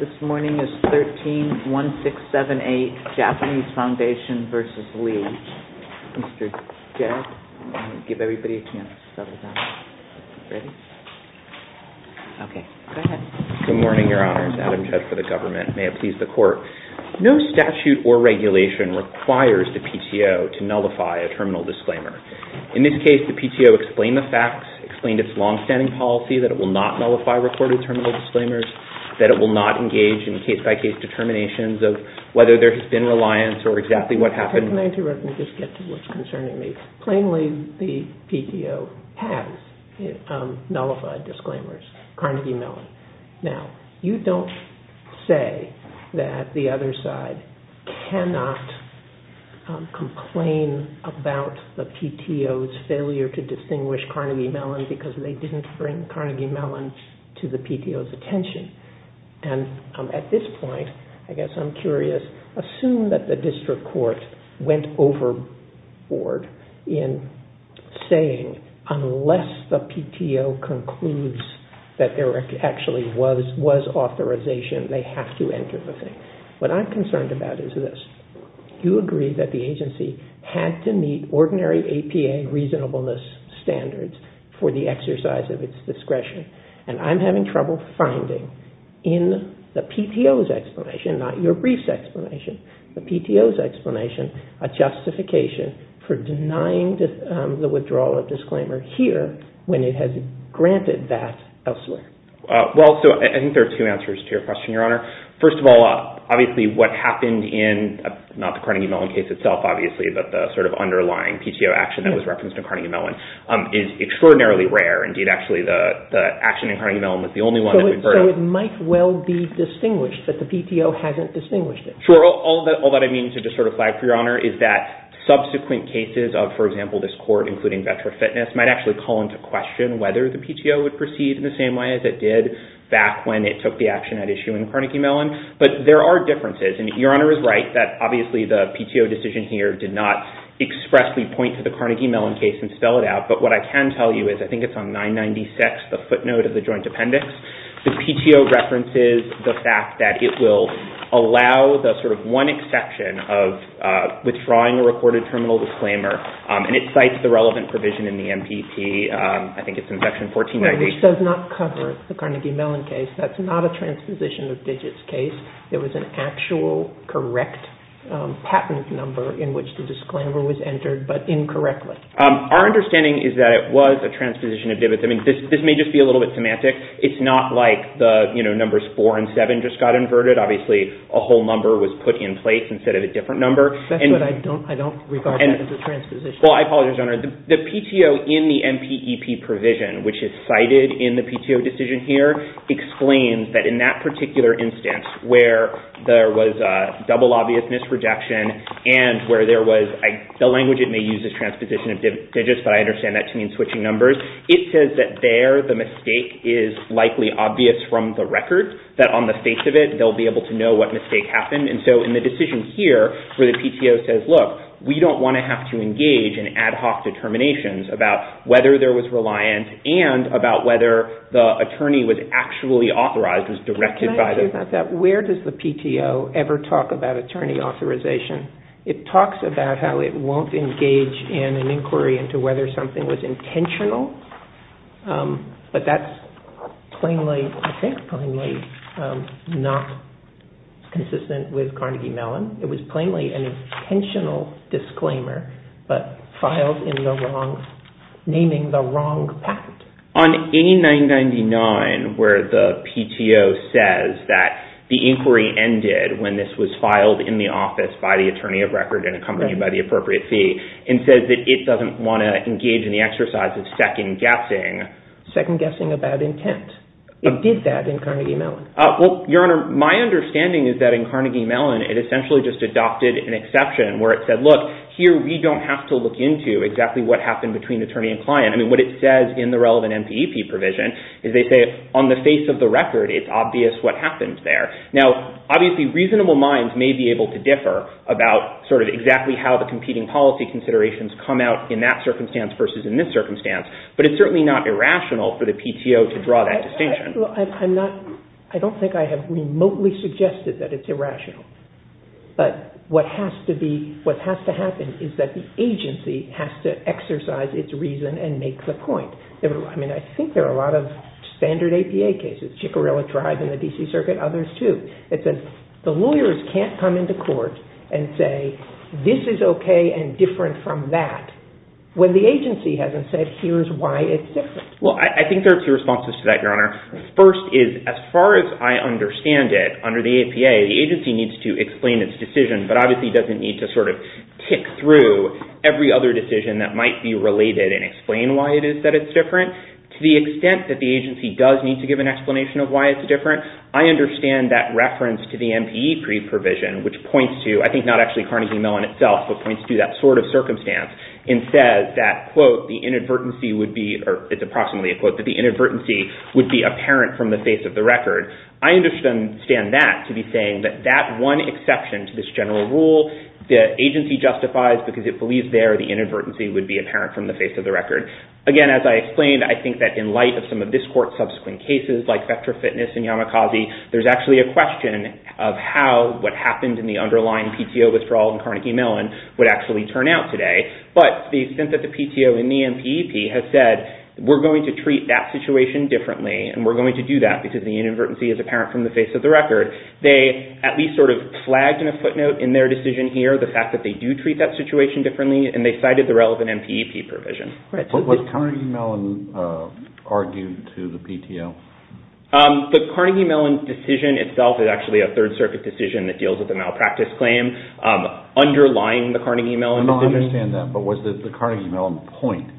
This morning is 13-1678, Japanese Foundation v. Lee. Mr. Jedd, I'll give everybody a chance to settle down. Ready? Okay. Go ahead. Good morning, Your Honors. Adam Jedd for the government. May it please the Court. No statute or regulation requires the PTO to nullify a terminal disclaimer. In this case, the PTO explained the facts, explained its long-standing policy that it will not engage in case-by-case determinations of whether there has been reliance or exactly what happened. Can I interrupt and just get to what's concerning me? Plainly, the PTO has nullified disclaimers, Carnegie Mellon. Now, you don't say that the other side cannot complain about the PTO's failure to distinguish Carnegie Mellon because they didn't bring Carnegie Mellon to the hearing. And at this point, I guess I'm curious, assume that the district court went overboard in saying, unless the PTO concludes that there actually was authorization, they have to enter the thing. What I'm concerned about is this. You agree that the agency had to meet ordinary APA reasonableness standards for the exercise of its discretion. And I'm having trouble finding in the PTO's explanation, not your brief's explanation, the PTO's explanation, a justification for denying the withdrawal of disclaimer here when it has granted that elsewhere. Well, so I think there are two answers to your question, Your Honor. First of all, obviously what happened in not the Carnegie Mellon case itself, obviously, but the sort of underlying PTO action that was referenced in Carnegie Mellon is extraordinarily rare. Indeed, actually, the action in Carnegie Mellon was the only one that we've heard of. So it might well be distinguished that the PTO hasn't distinguished it. Sure. All that I mean to just sort of flag for Your Honor is that subsequent cases of, for example, this court, including Vetra Fitness, might actually call into question whether the PTO would proceed in the same way as it did back when it took the action at issuing Carnegie Mellon. But there are differences. And Your Honor is right that, obviously, the Carnegie Mellon case and spell it out. But what I can tell you is I think it's on 996, the footnote of the joint appendix. The PTO references the fact that it will allow the sort of one exception of withdrawing a recorded terminal disclaimer. And it cites the relevant provision in the MPP. I think it's in Section 1493. Which does not cover the Carnegie Mellon case. That's not a transposition of digits case. It was an actual correct patent number in which the disclaimer was entered, but incorrectly. Our understanding is that it was a transposition of digits. I mean, this may just be a little bit semantic. It's not like the numbers four and seven just got inverted. Obviously, a whole number was put in place instead of a different number. That's what I don't regard as a transposition. Well, I apologize, Your Honor. The PTO in the MPEP provision, which is cited in the particular instance where there was a double obvious misrejection and where there was, the language it may use is transposition of digits, but I understand that to mean switching numbers. It says that there the mistake is likely obvious from the record. That on the face of it, they'll be able to know what mistake happened. And so in the decision here, where the PTO says, look, we don't want to have to engage in ad hoc determinations about whether there was reliant and about whether the attorney was actually authorized, was directed by the... Can I change that? Where does the PTO ever talk about attorney authorization? It talks about how it won't engage in an inquiry into whether something was intentional, but that's plainly, I think, plainly not consistent with Carnegie Mellon. It was plainly an intentional disclaimer, but filed in the wrong, naming the wrong patent. On 8999, where the PTO says that the inquiry ended when this was filed in the office by the attorney of record and accompanied by the appropriate fee and says that it doesn't want to engage in the exercise of second guessing... Second guessing about intent. It did that in Carnegie Mellon. Well, Your Honor, my understanding is that in Carnegie Mellon, it essentially just adopted an exception where it said, look, here we don't have to look into exactly what happened between attorney and client. I mean, what it says in the relevant MPEP provision is they say on the face of the record, it's obvious what happened there. Now, obviously, reasonable minds may be able to differ about sort of exactly how the competing policy considerations come out in that circumstance versus in this circumstance, but it's certainly not irrational for the PTO to draw that distinction. Well, I'm not... I don't think I have remotely suggested that it's irrational, but what has to happen is that the agency has to exercise its reason and make the point. I mean, I think there are a lot of standard APA cases, Chickarella Drive in the D.C. Circuit, others too, that says the lawyers can't come into court and say this is okay and different from that when the agency hasn't said here's why it's different. Well, I think there are two responses to that, Your Honor. First is, as far as I understand it, under the APA, the agency needs to explain its decision, but obviously doesn't need to sort of tick through every other decision that might be related and explain why it is that it's different. To the extent that the agency does need to give an explanation of why it's different, I understand that reference to the MPEP provision, which points to, I think not actually Carnegie Mellon itself, but points to that sort of circumstance, and says that, quote, the inadvertency would be, or it's approximately a quote, that the agency would understand that to be saying that that one exception to this general rule, the agency justifies because it believes there the inadvertency would be apparent from the face of the record. Again, as I explained, I think that in light of some of this Court's subsequent cases, like Vectra Fitness and Yamakaze, there's actually a question of how what happened in the underlying PTO withdrawal in Carnegie Mellon would actually turn out today. But the extent that the PTO in the MPEP has said, we're going to treat that situation differently and we're going to do that because the inadvertency is apparent from the face of the record, they at least sort of flagged in a footnote in their decision here the fact that they do treat that situation differently and they cited the relevant MPEP provision. But was Carnegie Mellon argued to the PTO? The Carnegie Mellon decision itself is actually a Third Circuit decision that deals with a malpractice claim underlying the Carnegie Mellon decision. I understand that, but was the Carnegie Mellon point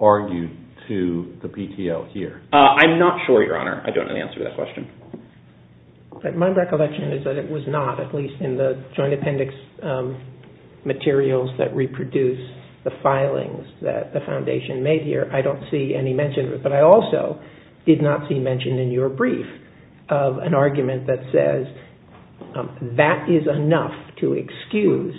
argued to the PTO here? I'm not sure, Your Honor. I don't have the answer to that question. My recollection is that it was not, at least in the joint appendix materials that reproduce the filings that the Foundation made here. I don't see any mention of it. But I also did not see mention in your brief of an argument that says that is enough to excuse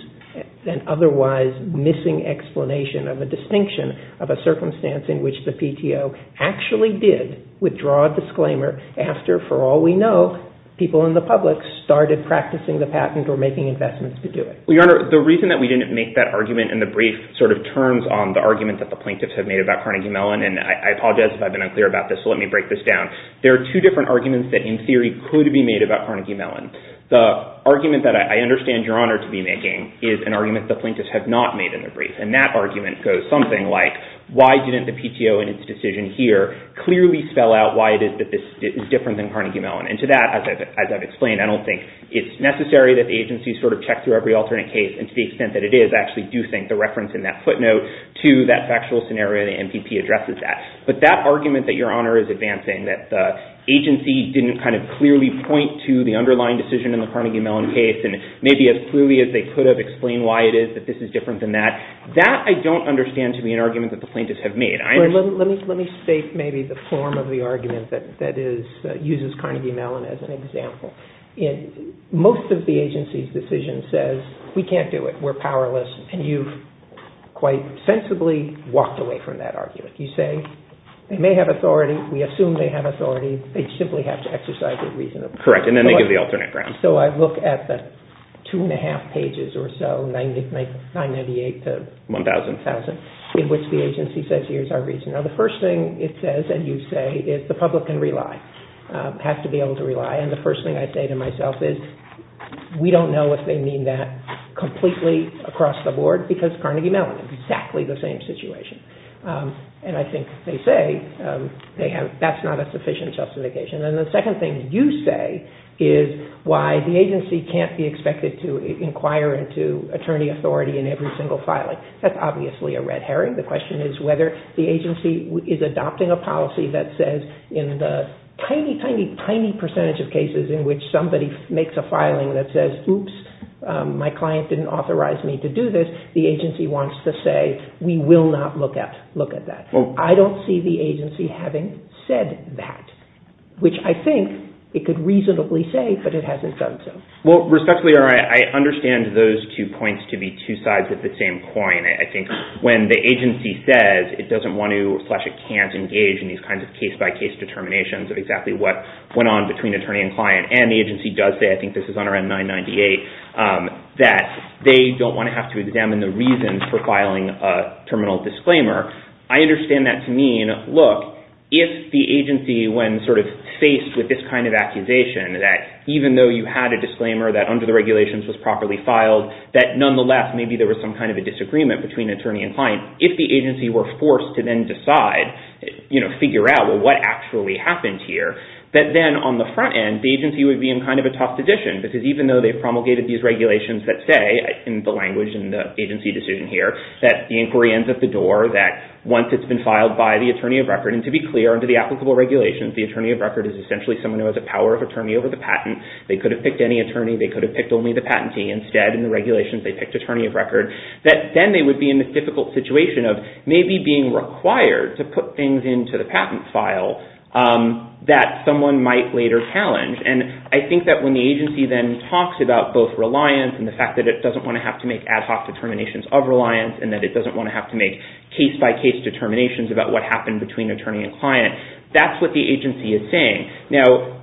an otherwise missing explanation of a distinction of a circumstance in which the PTO actually did withdraw a disclaimer after, for all we know, people in the public started practicing the patent or making investments to do it. Well, Your Honor, the reason that we didn't make that argument in the brief sort of terms on the argument that the plaintiffs have made about Carnegie Mellon, and I apologize if I've been unclear about this, so let me break this down. There are two different arguments that in theory could be made about Carnegie Mellon. The argument that I understand Your Honor is that it was not made in the brief. And that argument goes something like, why didn't the PTO in its decision here clearly spell out why it is that this is different than Carnegie Mellon? And to that, as I've explained, I don't think it's necessary that the agency sort of checks through every alternate case. And to the extent that it is, I actually do think the reference in that footnote to that factual scenario, the MPP addresses that. But that argument that Your Honor is advancing, that the agency didn't kind of clearly point to the underlying decision in the Carnegie Mellon case and maybe as clearly as they could have explained why it is that this is different than that, that I don't understand to be an argument that the plaintiffs have made. Let me state maybe the form of the argument that uses Carnegie Mellon as an example. Most of the agency's decision says, we can't do it, we're powerless, and you've quite sensibly walked away from that argument. You say, they may have authority, we assume they have authority, they simply have to exercise it reasonably. Correct, and then they give the alternate grounds. So I look at the two and a half pages or so, 998 to 1,000, in which the agency says, here's our reason. Now, the first thing it says, and you say, is the public can rely, have to be able to rely. And the first thing I say to myself is, we don't know if they mean that completely across the board, because Carnegie Mellon, exactly the same situation. And I think they say, that's not a sufficient justification. And the second thing you say is why the agency can't be expected to inquire into attorney authority in every single filing. That's obviously a red herring. The question is whether the agency is adopting a policy that says, in the tiny, tiny, tiny percentage of cases in which somebody makes a filing that says, oops, my client didn't authorize me to do this, the agency wants to say, we will not look at that. I don't see the agency having said that. Which I think it could reasonably say, but it hasn't done so. Well, respectfully, I understand those two points to be two sides of the same coin. I think when the agency says it doesn't want to, slash, it can't engage in these kinds of case-by-case determinations of exactly what went on between attorney and client, and the agency does say, I think this is on our N998, that they don't want to have to examine the reasons for filing a terminal disclaimer, I understand that to mean, look, if the agency, when sort of faced with this kind of accusation, that even though you had a disclaimer that under the regulations was properly filed, that nonetheless, maybe there was some kind of a disagreement between attorney and client, if the agency were forced to then decide, you know, figure out, well, what actually happened here, that then on the front end, the agency would be in kind of a tough position, because even though they promulgated these regulations that say, in the language in the agency decision here, that the inquiry ends at the door, that once it's been filed by the attorney of record, and to be clear, under the applicable regulations, the attorney of record is essentially someone who has a power of attorney over the patent, they could have picked any attorney, they could have picked only the patentee, instead, in the regulations, they picked attorney of record, that then they would be in a difficult situation of maybe being required to put things into the patent file that someone might later challenge, and I think that when the agency then talks about both reliance and the fact that it doesn't want to have to make ad hoc determinations of reliance, and that it doesn't want to have to make case-by-case determinations about what happened between attorney and client, that's what the agency is saying. Now,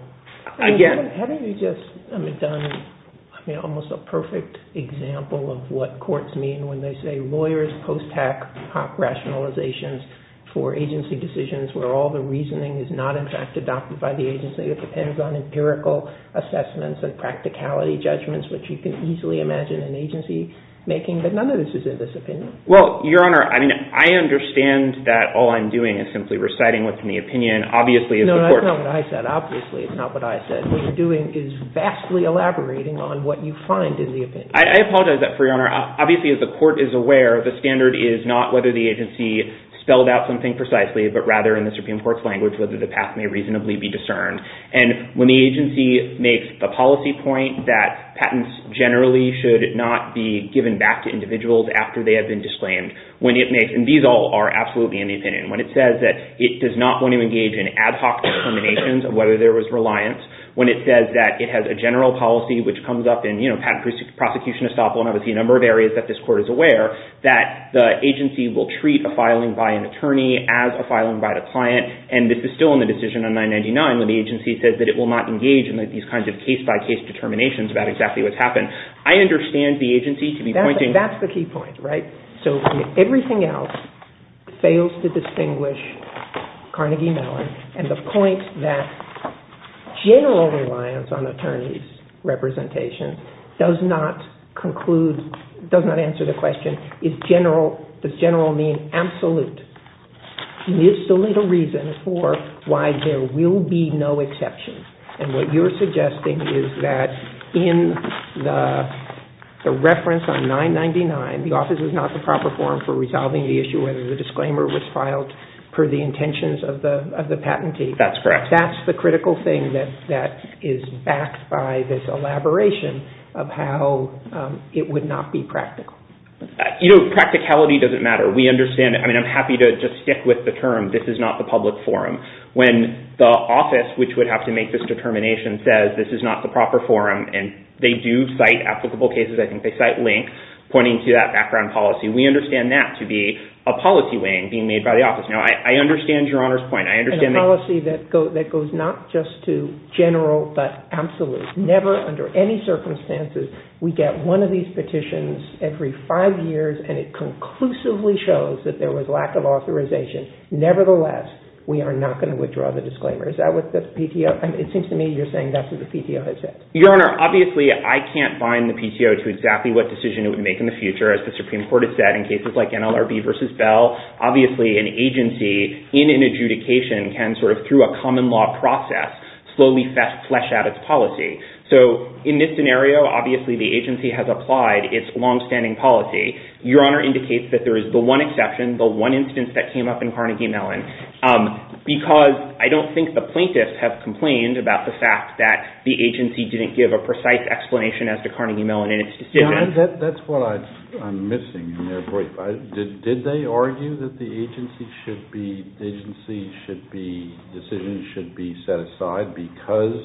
again... And haven't we just, I mean, done, I mean, almost a perfect example of what courts mean when they say lawyers post-hoc rationalizations for agency decisions, where all the reasoning is not, in fact, adopted by the agency, it depends on empirical assessments and practicality judgments, which you can easily imagine an agency making, but none of this is in this opinion. Well, Your Honor, I mean, I understand that all I'm doing is simply reciting what's in the opinion. No, that's not what I said. Obviously, it's not what I said. What you're doing is vastly elaborating on what you find in the opinion. I apologize for that, Your Honor. Obviously, as the court is aware, the standard is not whether the agency spelled out something precisely, but rather, in the Supreme Court's language, whether the path may reasonably be discerned. And when the agency makes the policy point that patents generally should not be given back to individuals after they have been disclaimed, when it makes, and these all are absolutely in the opinion, when it says that it does not want to engage in ad hoc discriminations of whether there was reliance, when it says that it has a general policy, which comes up in patent prosecution estoppel, and obviously a number of areas that this court is aware, that the agency will treat a filing by an attorney as a filing by the client, and this is still in the decision on 999, when the agency says that it will not engage in these kinds of case-by-case determinations about exactly what's happened. I understand the agency to be pointing... That's the key point, right? So everything else fails to distinguish Carnegie Mellon, and the point that general reliance on attorney's representation does not conclude, does not answer the question, does general mean absolute? It's the little reason for why there will be no exceptions, and what you're suggesting is that in the reference on 999, the office is not the proper forum for resolving the issue whether the disclaimer was filed per the intentions of the patentee. That's correct. That's the critical thing that is backed by this elaboration of how it would not be practical. You know, practicality doesn't matter. We understand it. I mean, I'm happy to just stick with the term, this is not the public forum. When the office, which would have to make this determination, says this is not the proper forum, and they do cite applicable cases, I think they cite Link, pointing to that background policy, we understand that to be a policy weighing being made by the office. Now, I understand Your Honor's point. I understand that... And a policy that goes not just to general, but absolute. Never, under any circumstances, we get one of these petitions every five years, and it conclusively shows that there was lack of authorization. Nevertheless, we are not going to withdraw the disclaimer. Is that what the PTO... It seems to me you're saying that's what the PTO has said. Your Honor, obviously I can't bind the PTO to exactly what decision it would make in the future. As the Supreme Court has said, in cases like NLRB v. Bell, obviously an agency in an adjudication can sort of, through a common law process, slowly flesh out its policy. So, in this scenario, obviously the agency has applied its longstanding policy. Your Honor indicates that there is the one exception, the one instance that came up in Carnegie Mellon, because I don't think the plaintiffs have complained about the fact that the agency didn't give a precise explanation as to Carnegie Mellon and its decision. That's what I'm missing in their brief. Did they argue that the agency should be... Decisions should be set aside because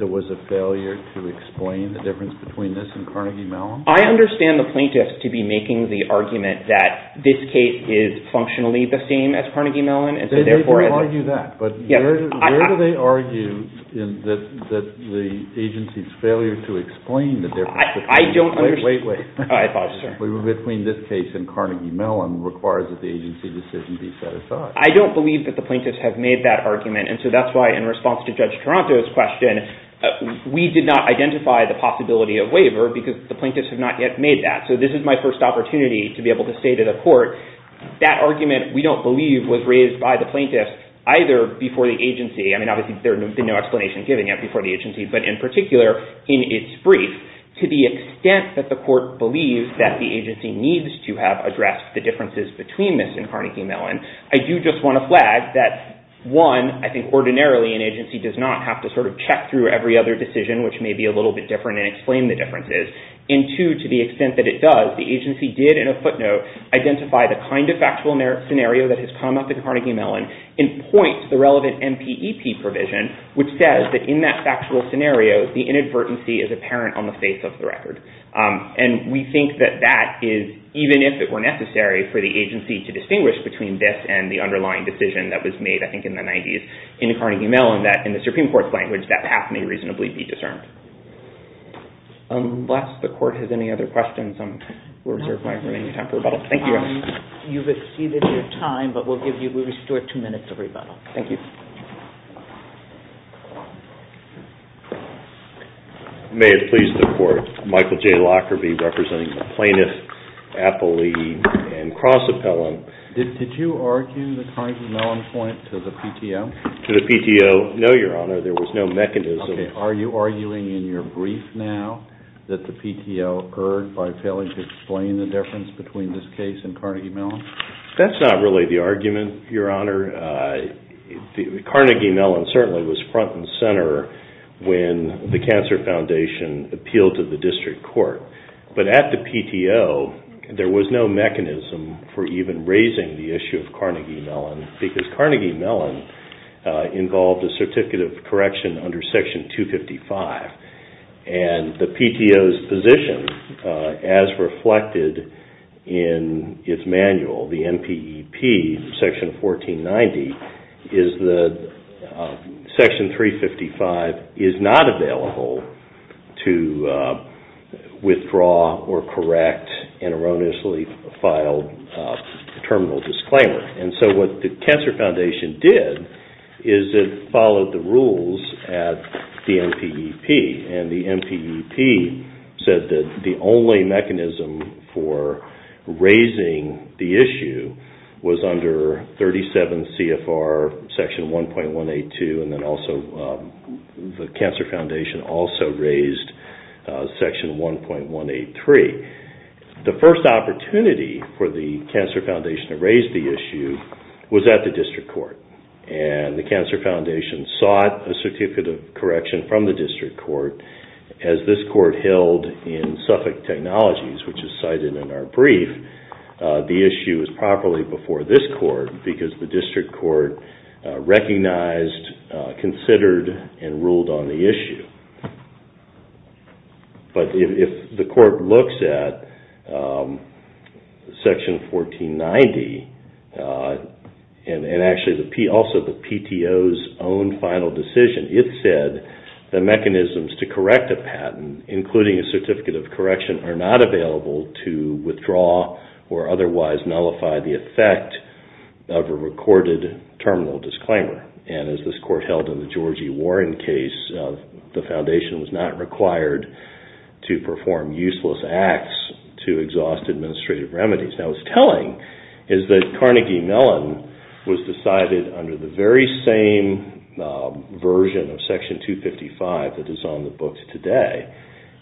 there was a failure to explain the difference between this and Carnegie Mellon? I understand the plaintiffs to be making the argument that this case is functionally the same as Carnegie Mellon, and so therefore... They didn't argue that, but where do they argue that the agency's failure to explain the difference between... Wait, wait, wait. I apologize, sir. Between this case and Carnegie Mellon requires that the agency decision be set aside. I don't believe that the plaintiffs have made that argument, and so that's why, in response to Judge Toronto's question, we did not identify the possibility of waiver because the plaintiffs have not yet made that. So, this is my first opportunity to be able to say to the court, that argument, we don't believe, was raised by the plaintiffs either before the agency... I mean, obviously, there would be no explanation given yet before the agency, but in particular, in its brief, to the extent that the court believes that the agency needs to have addressed the differences between this and Carnegie Mellon, I do just want to flag that, one, I think ordinarily an agency does not have to sort of check through every other decision, which may be a little bit different and explain the differences, and two, to the extent that it does, the agency did, in a footnote, identify the kind of factual scenario that has come up in Carnegie Mellon and points the relevant MPEP provision, which says that in that factual scenario, the inadvertency is apparent on the face of the record. And we think that that is, even if it were necessary for the agency to distinguish between this and the underlying decision that was made, I think, in the 90s in Carnegie Mellon, that in the Supreme Court's language, that path may reasonably be discerned. Unless the court has any other questions, I will reserve my remaining time for rebuttal. Thank you. You've exceeded your time, but we'll restore two minutes of rebuttal. Thank you. May it please the Court. Michael J. Lockerbie, representing the plaintiff, appellee, and cross-appellant. Did you argue the Carnegie Mellon point to the PTO? To the PTO, no, Your Honor. There was no mechanism. Okay. Are you arguing in your brief now that the PTO erred by failing to explain the difference between this case and Carnegie Mellon? That's not really the argument, Your Honor. Carnegie Mellon certainly was front and center when the Cancer Foundation appealed to the district court. But at the PTO, there was no mechanism for even raising the issue of Carnegie Mellon because Carnegie Mellon involved a certificate of correction under Section 255. The PTO's position, as reflected in its manual, the NPEP, Section 1490, is that Section 355 is not available to withdraw or correct an erroneously filed terminal disclaimer. And so what the Cancer Foundation did is it followed the rules at the NPEP, and the NPEP said that the only mechanism for raising the issue was under 37 CFR Section 1.182, and then also the Cancer Foundation also raised Section 1.183. The first opportunity for the Cancer Foundation to raise the issue was at the district court. And the Cancer Foundation sought a certificate of correction from the district court. As this court held in Suffolk Technologies, which is cited in our brief, the issue was properly before this court because the district court recognized, considered, and ruled on the issue. But if the court looks at Section 1490, and actually also the PTO's own final decision, it said the mechanisms to correct a patent, including a certificate of correction, are not available to withdraw or otherwise nullify the effect of a recorded terminal disclaimer. And as this court held in the Georgie Warren case, the foundation was not required to perform useless acts to exhaust administrative remedies. Now what's telling is that Carnegie Mellon was decided under the very same version of Section 255 that is on the books today,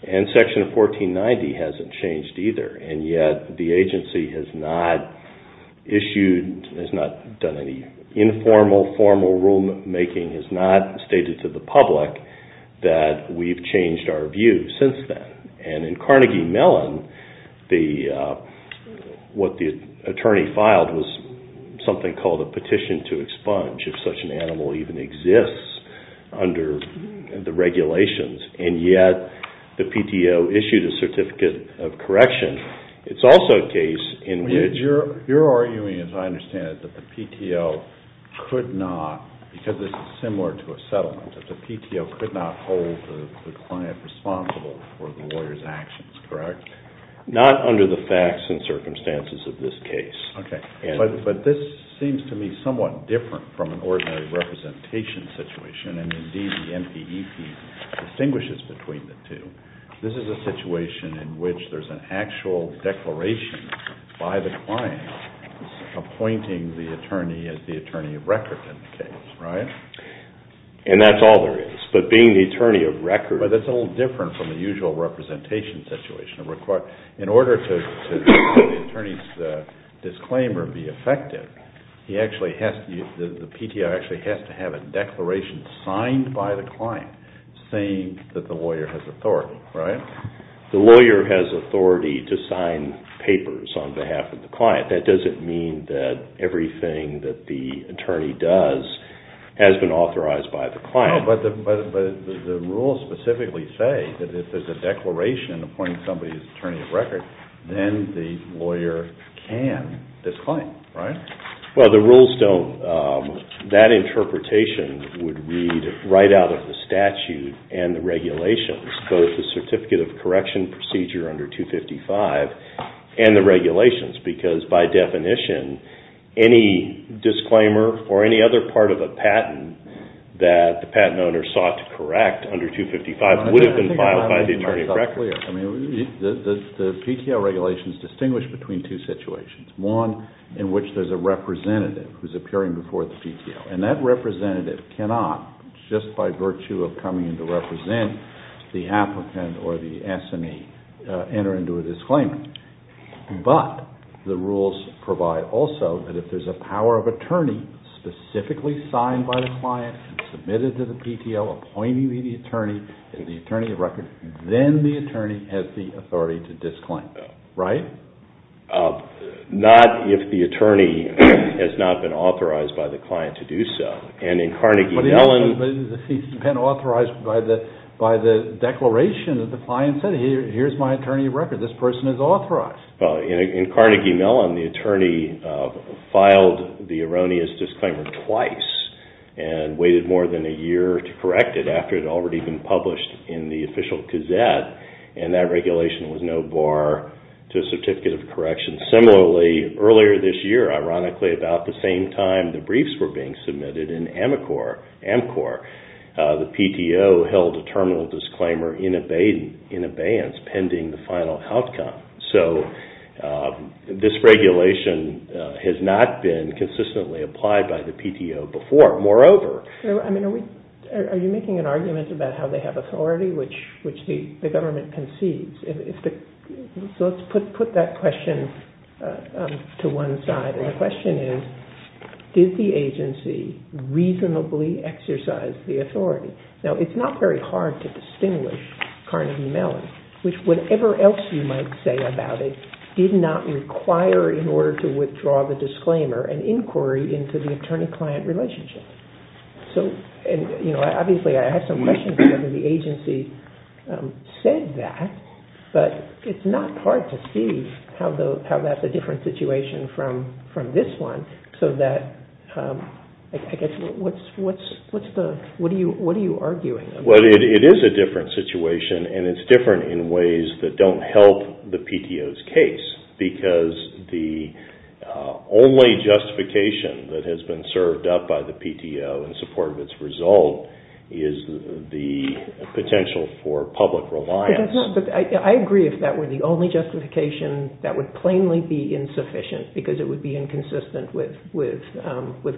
and Section 1490 hasn't changed either. And yet the agency has not issued, has not done any informal, formal rulemaking, has not stated to the public that we've changed our view since then. And in Carnegie Mellon, what the attorney filed was something called a petition to expunge if such an animal even exists under the regulations. And yet the PTO issued a certificate of correction. It's also a case in which... You're arguing, as I understand it, that the PTO could not, because this is similar to a settlement, that the PTO could not hold the client responsible for the lawyer's actions, correct? Not under the facts and circumstances of this case. Okay. But this seems to me somewhat different from an ordinary representation situation, and indeed the NPEP distinguishes between the two. This is a situation in which there's an actual declaration by the client appointing the attorney as the attorney of record in the case, right? And that's all there is. But being the attorney of record... But that's a little different from the usual representation situation. In order to make the attorney's disclaimer be effective, the PTO actually has to have a declaration signed by the client saying that the lawyer has authority, right? The lawyer has authority to sign papers on behalf of the client. That doesn't mean that everything that the attorney does has been authorized by the client. No, but the rules specifically say that if there's a declaration appointing somebody as attorney of record, then the lawyer can disclaim, right? Well, the rules don't. That interpretation would read right out of the statute and the regulations, both the Certificate of Correction Procedure under 255 and the regulations, because by definition, any disclaimer or any other part of a patent that the patent owner sought to correct under 255 would have been filed by the attorney of record. The PTO regulations distinguish between two situations, one in which there's a representative who's appearing before the PTO, and that representative cannot, just by virtue of coming in to represent the applicant or the SME, enter into a disclaimer. But the rules provide also that if there's a power of attorney specifically signed by the client and submitted to the PTO appointing the attorney, the attorney of record, then the attorney has the authority to disclaim, right? Not if the attorney has not been authorized by the client to do so. And in Carnegie Mellon... But he's been authorized by the declaration that the client said, here's my attorney of record, this person is authorized. Well, in Carnegie Mellon, the attorney filed the erroneous disclaimer twice and waited more than a year to correct it after it had already been published in the official gazette, and that regulation was no bar to a certificate of correction. Similarly, earlier this year, ironically, about the same time the briefs were being submitted in AMCOR, the PTO held a terminal disclaimer in abeyance pending the final outcome. So this regulation has not been consistently applied by the PTO before. Moreover... Are you making an argument about how they have authority, which the government concedes? So let's put that question to one side. And the question is, did the agency reasonably exercise the authority? Now, it's not very hard to distinguish Carnegie Mellon, which, whatever else you might say about it, did not require, in order to withdraw the disclaimer, an inquiry into the attorney-client relationship. So, you know, obviously I have some questions about whether the agency said that, but it's not hard to see how that's a different situation from this one, so that, I guess, what are you arguing about? Well, it is a different situation, and it's different in ways that don't help the PTO's case, because the only justification that has been served up by the PTO in support of its result is the potential for public reliance. I agree if that were the only justification, that would plainly be insufficient, because it would be inconsistent with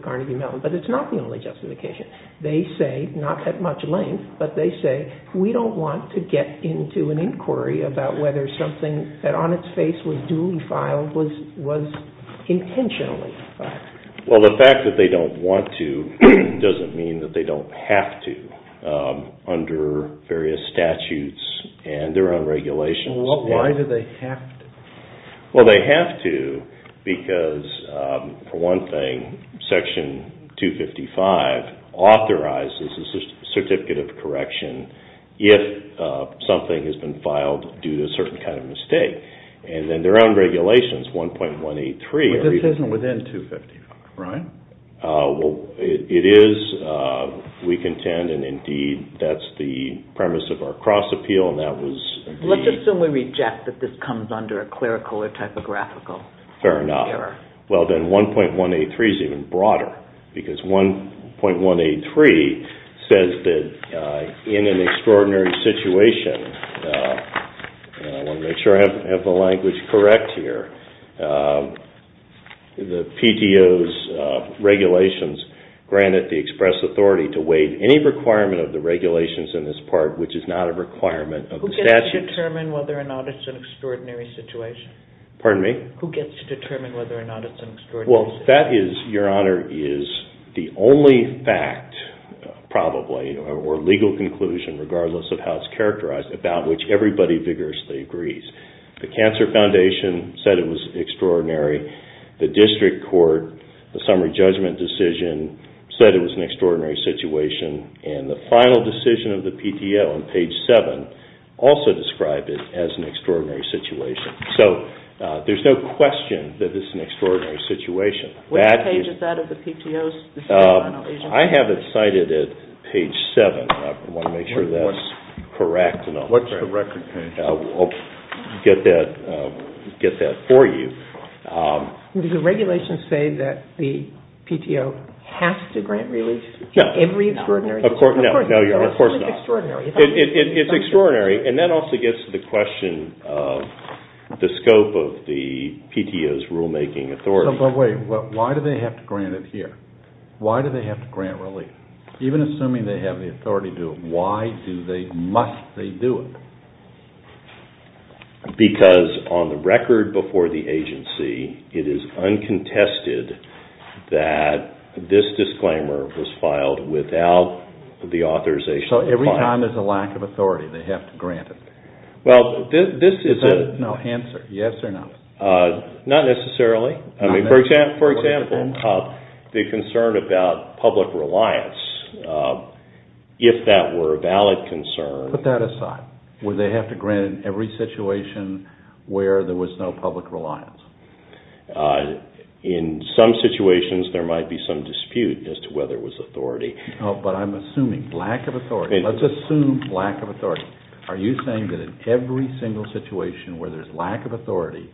Carnegie Mellon. But it's not the only justification. They say, not at much length, but they say, we don't want to get into an inquiry about whether something that on its face was duly filed was intentionally filed. Well, the fact that they don't want to doesn't mean that they don't have to, under various statutes and their own regulations. Why do they have to? Well, they have to because, for one thing, Section 255 authorizes a certificate of correction if something has been filed due to a certain kind of mistake. And then their own regulations, 1.183. But this isn't within 255, right? It is, we contend, and indeed, that's the premise of our cross-appeal, and that was the... Fair enough. Well, then 1.183 is even broader, because 1.183 says that in an extraordinary situation, and I want to make sure I have the language correct here, the PTO's regulations grant it the express authority to waive any requirement of the regulations in this part, which is not a requirement of the statutes. Who gets to determine whether or not it's an extraordinary situation? Pardon me? Who gets to determine whether or not it's an extraordinary situation? Well, that is, Your Honor, is the only fact, probably, or legal conclusion, regardless of how it's characterized, about which everybody vigorously agrees. The Cancer Foundation said it was extraordinary. The District Court, the summary judgment decision said it was an extraordinary situation. And the final decision of the PTO on page 7 also described it as an extraordinary situation. So there's no question that it's an extraordinary situation. Which page is that of the PTO's decisional? I have it cited at page 7. I want to make sure that's correct. What's the record page? I'll get that for you. The regulations say that the PTO has to grant relief to every extraordinary situation. No, Your Honor, of course not. It's extraordinary. And that also gets to the question of the scope of the PTO's rulemaking authority. But wait, why do they have to grant it here? Why do they have to grant relief? Even assuming they have the authority to do it, why must they do it? Because on the record before the agency, it is uncontested that this disclaimer was filed without the authorization. So every time there's a lack of authority, they have to grant it. Well, this is a... No, answer, yes or no. Not necessarily. For example, the concern about public reliance, if that were a valid concern... Put that aside. Why would they have to grant it in every situation where there was no public reliance? In some situations, there might be some dispute as to whether it was authority. Oh, but I'm assuming lack of authority. Let's assume lack of authority. Are you saying that in every single situation where there's lack of authority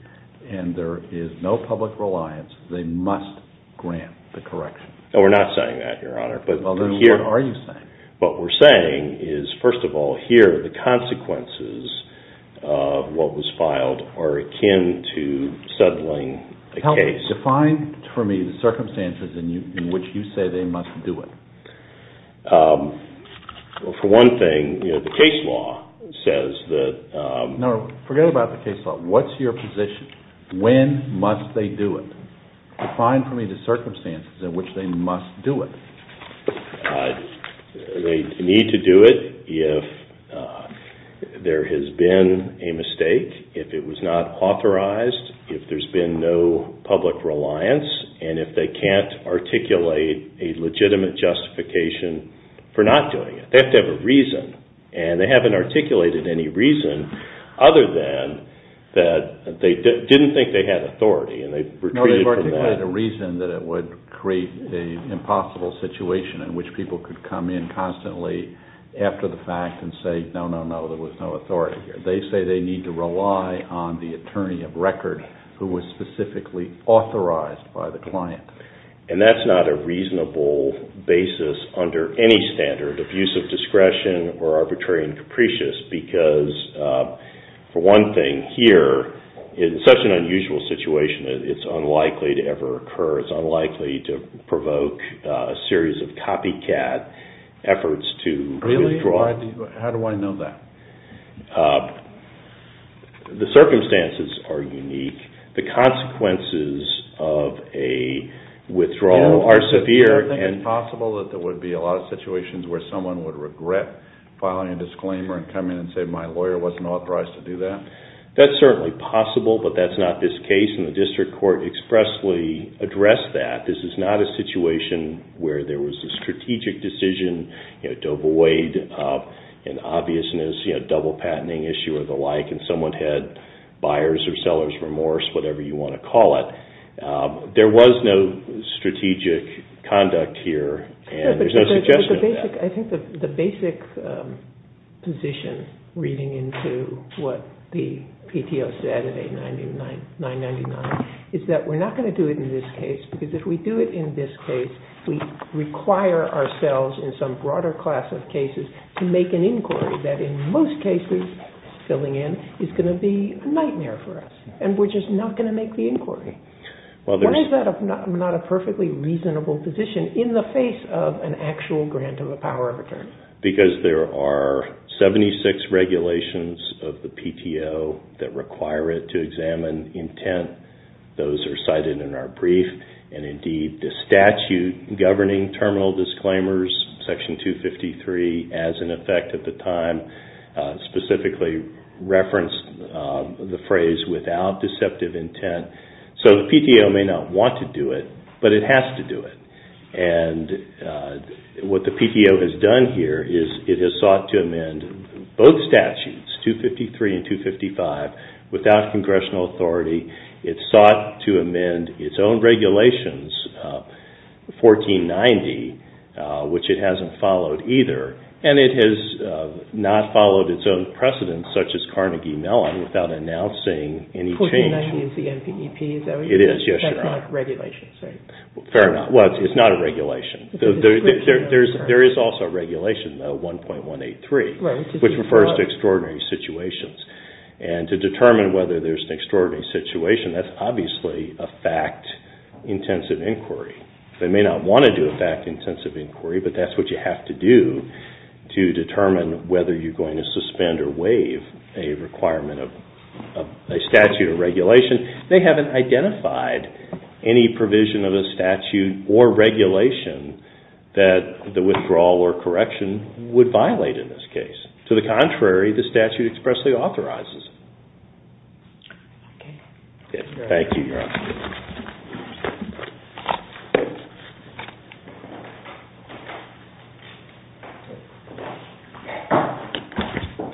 and there is no public reliance, they must grant the correction? No, we're not saying that, Your Honor. Well, then what are you saying? What we're saying is, first of all, here, the consequences of what was filed are akin to settling a case. Help me. Define for me the circumstances in which you say they must do it. For one thing, the case law says that... No, forget about the case law. What's your position? When must they do it? Define for me the circumstances in which they must do it. They need to do it if there has been a mistake, if it was not authorized, if there's been no public reliance, and if they can't articulate a legitimate justification for not doing it. They have to have a reason, and they haven't articulated any reason other than that they didn't think they had authority, and they had a reason that it would create an impossible situation in which people could come in constantly after the fact and say, no, no, no, there was no authority here. They say they need to rely on the attorney of record who was specifically authorized by the client. And that's not a reasonable basis under any standard of use of discretion or arbitrary and capricious, because for one thing, here, in such an unusual situation, it's unlikely to ever occur. It's unlikely to provoke a series of copycat efforts to withdraw. Really? How do I know that? The circumstances are unique. The consequences of a withdrawal are severe. Is it possible that there would be a lot of situations where someone would regret filing a disclaimer and come in and say, my lawyer wasn't authorized to do that? That's certainly possible, but that's not this case, and the district court expressly addressed that. This is not a situation where there was a strategic decision to avoid an obvious double-patenting issue or the like, and someone had buyer's or seller's remorse, whatever you want to call it. There was no strategic conduct here, and there's no suggestion of that. I think the basic position, reading into what the PTO said in 899, is that we're not going to do it in this case, because if we do it in this case, we require ourselves in some broader class of cases to make an inquiry that in most cases, filling in, is going to be a nightmare for us, and we're just not going to make the inquiry. Why is that not a perfectly reasonable position in the face of an actual grant of the power of attorney? Because there are 76 regulations of the PTO that require it to examine intent. Those are cited in our brief, and indeed the statute governing terminal disclaimers, Section 253, as in effect at the time, specifically referenced the phrase without deceptive intent. So the PTO may not want to do it, but it has to do it. And what the PTO has done here is it has sought to amend both statutes, 253 and 255, without congressional authority. It sought to amend its own regulations, 1490, which it hasn't followed either, and it has not followed its own precedents, such as Carnegie Mellon, without announcing any change. 1490 is the NPEP, is that what you're saying? It is, yes, Your Honor. That's not regulations, right? Fair enough. Well, it's not a regulation. There is also a regulation, though, 1.183, which refers to extraordinary situations. And to determine whether there's an extraordinary situation, that's obviously a fact-intensive inquiry. They may not want to do a fact-intensive inquiry, but that's what you have to do to determine whether you're going to suspend or waive a requirement of a statute or regulation. They haven't identified any provision of a statute or regulation that the withdrawal or correction would violate in this case. To the contrary, the statute expressly authorizes it. Okay. Thank you, Your Honor.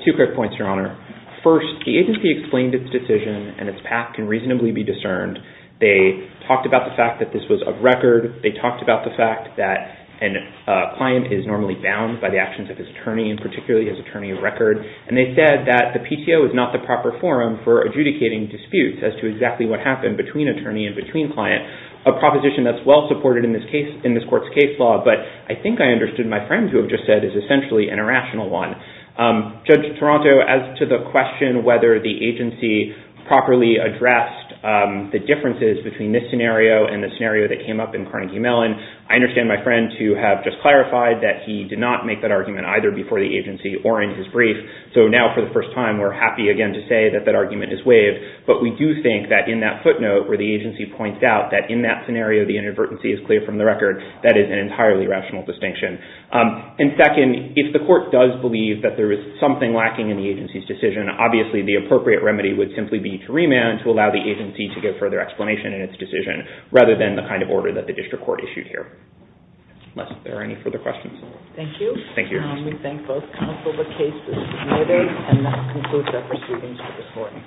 Two quick points, Your Honor. First, the agency explained its decision and its path can reasonably be discerned. They talked about the fact that this was of record. They talked about the fact that a client is normally bound by the actions of his attorney, and particularly his attorney of record. And they said that the PCO is not the proper forum for adjudicating disputes as to exactly what happened between attorney and between client, a proposition that's well-supported in this court's case law. But I think I understood my friend who just said it's essentially an irrational one. Judge Toronto, as to the question whether the agency properly addressed the differences between this scenario and the scenario that came up in Carnegie Mellon, I understand my friend to have just clarified that he did not make that argument either before the agency or in his brief. So now for the first time, we're happy again to say that that argument is waived. But we do think that in that footnote where the agency points out that in that scenario, the inadvertency is clear from the record, that is an entirely rational distinction. And second, if the court does believe that there is something lacking in the agency's decision, obviously the appropriate remedy would simply be to remand to allow the agency to give further explanation in its decision rather than the kind of order that the district court issued here. Unless there are any further questions. Thank you. Thank you. We thank both counsel, the case is submitted. And that concludes our proceedings for this morning.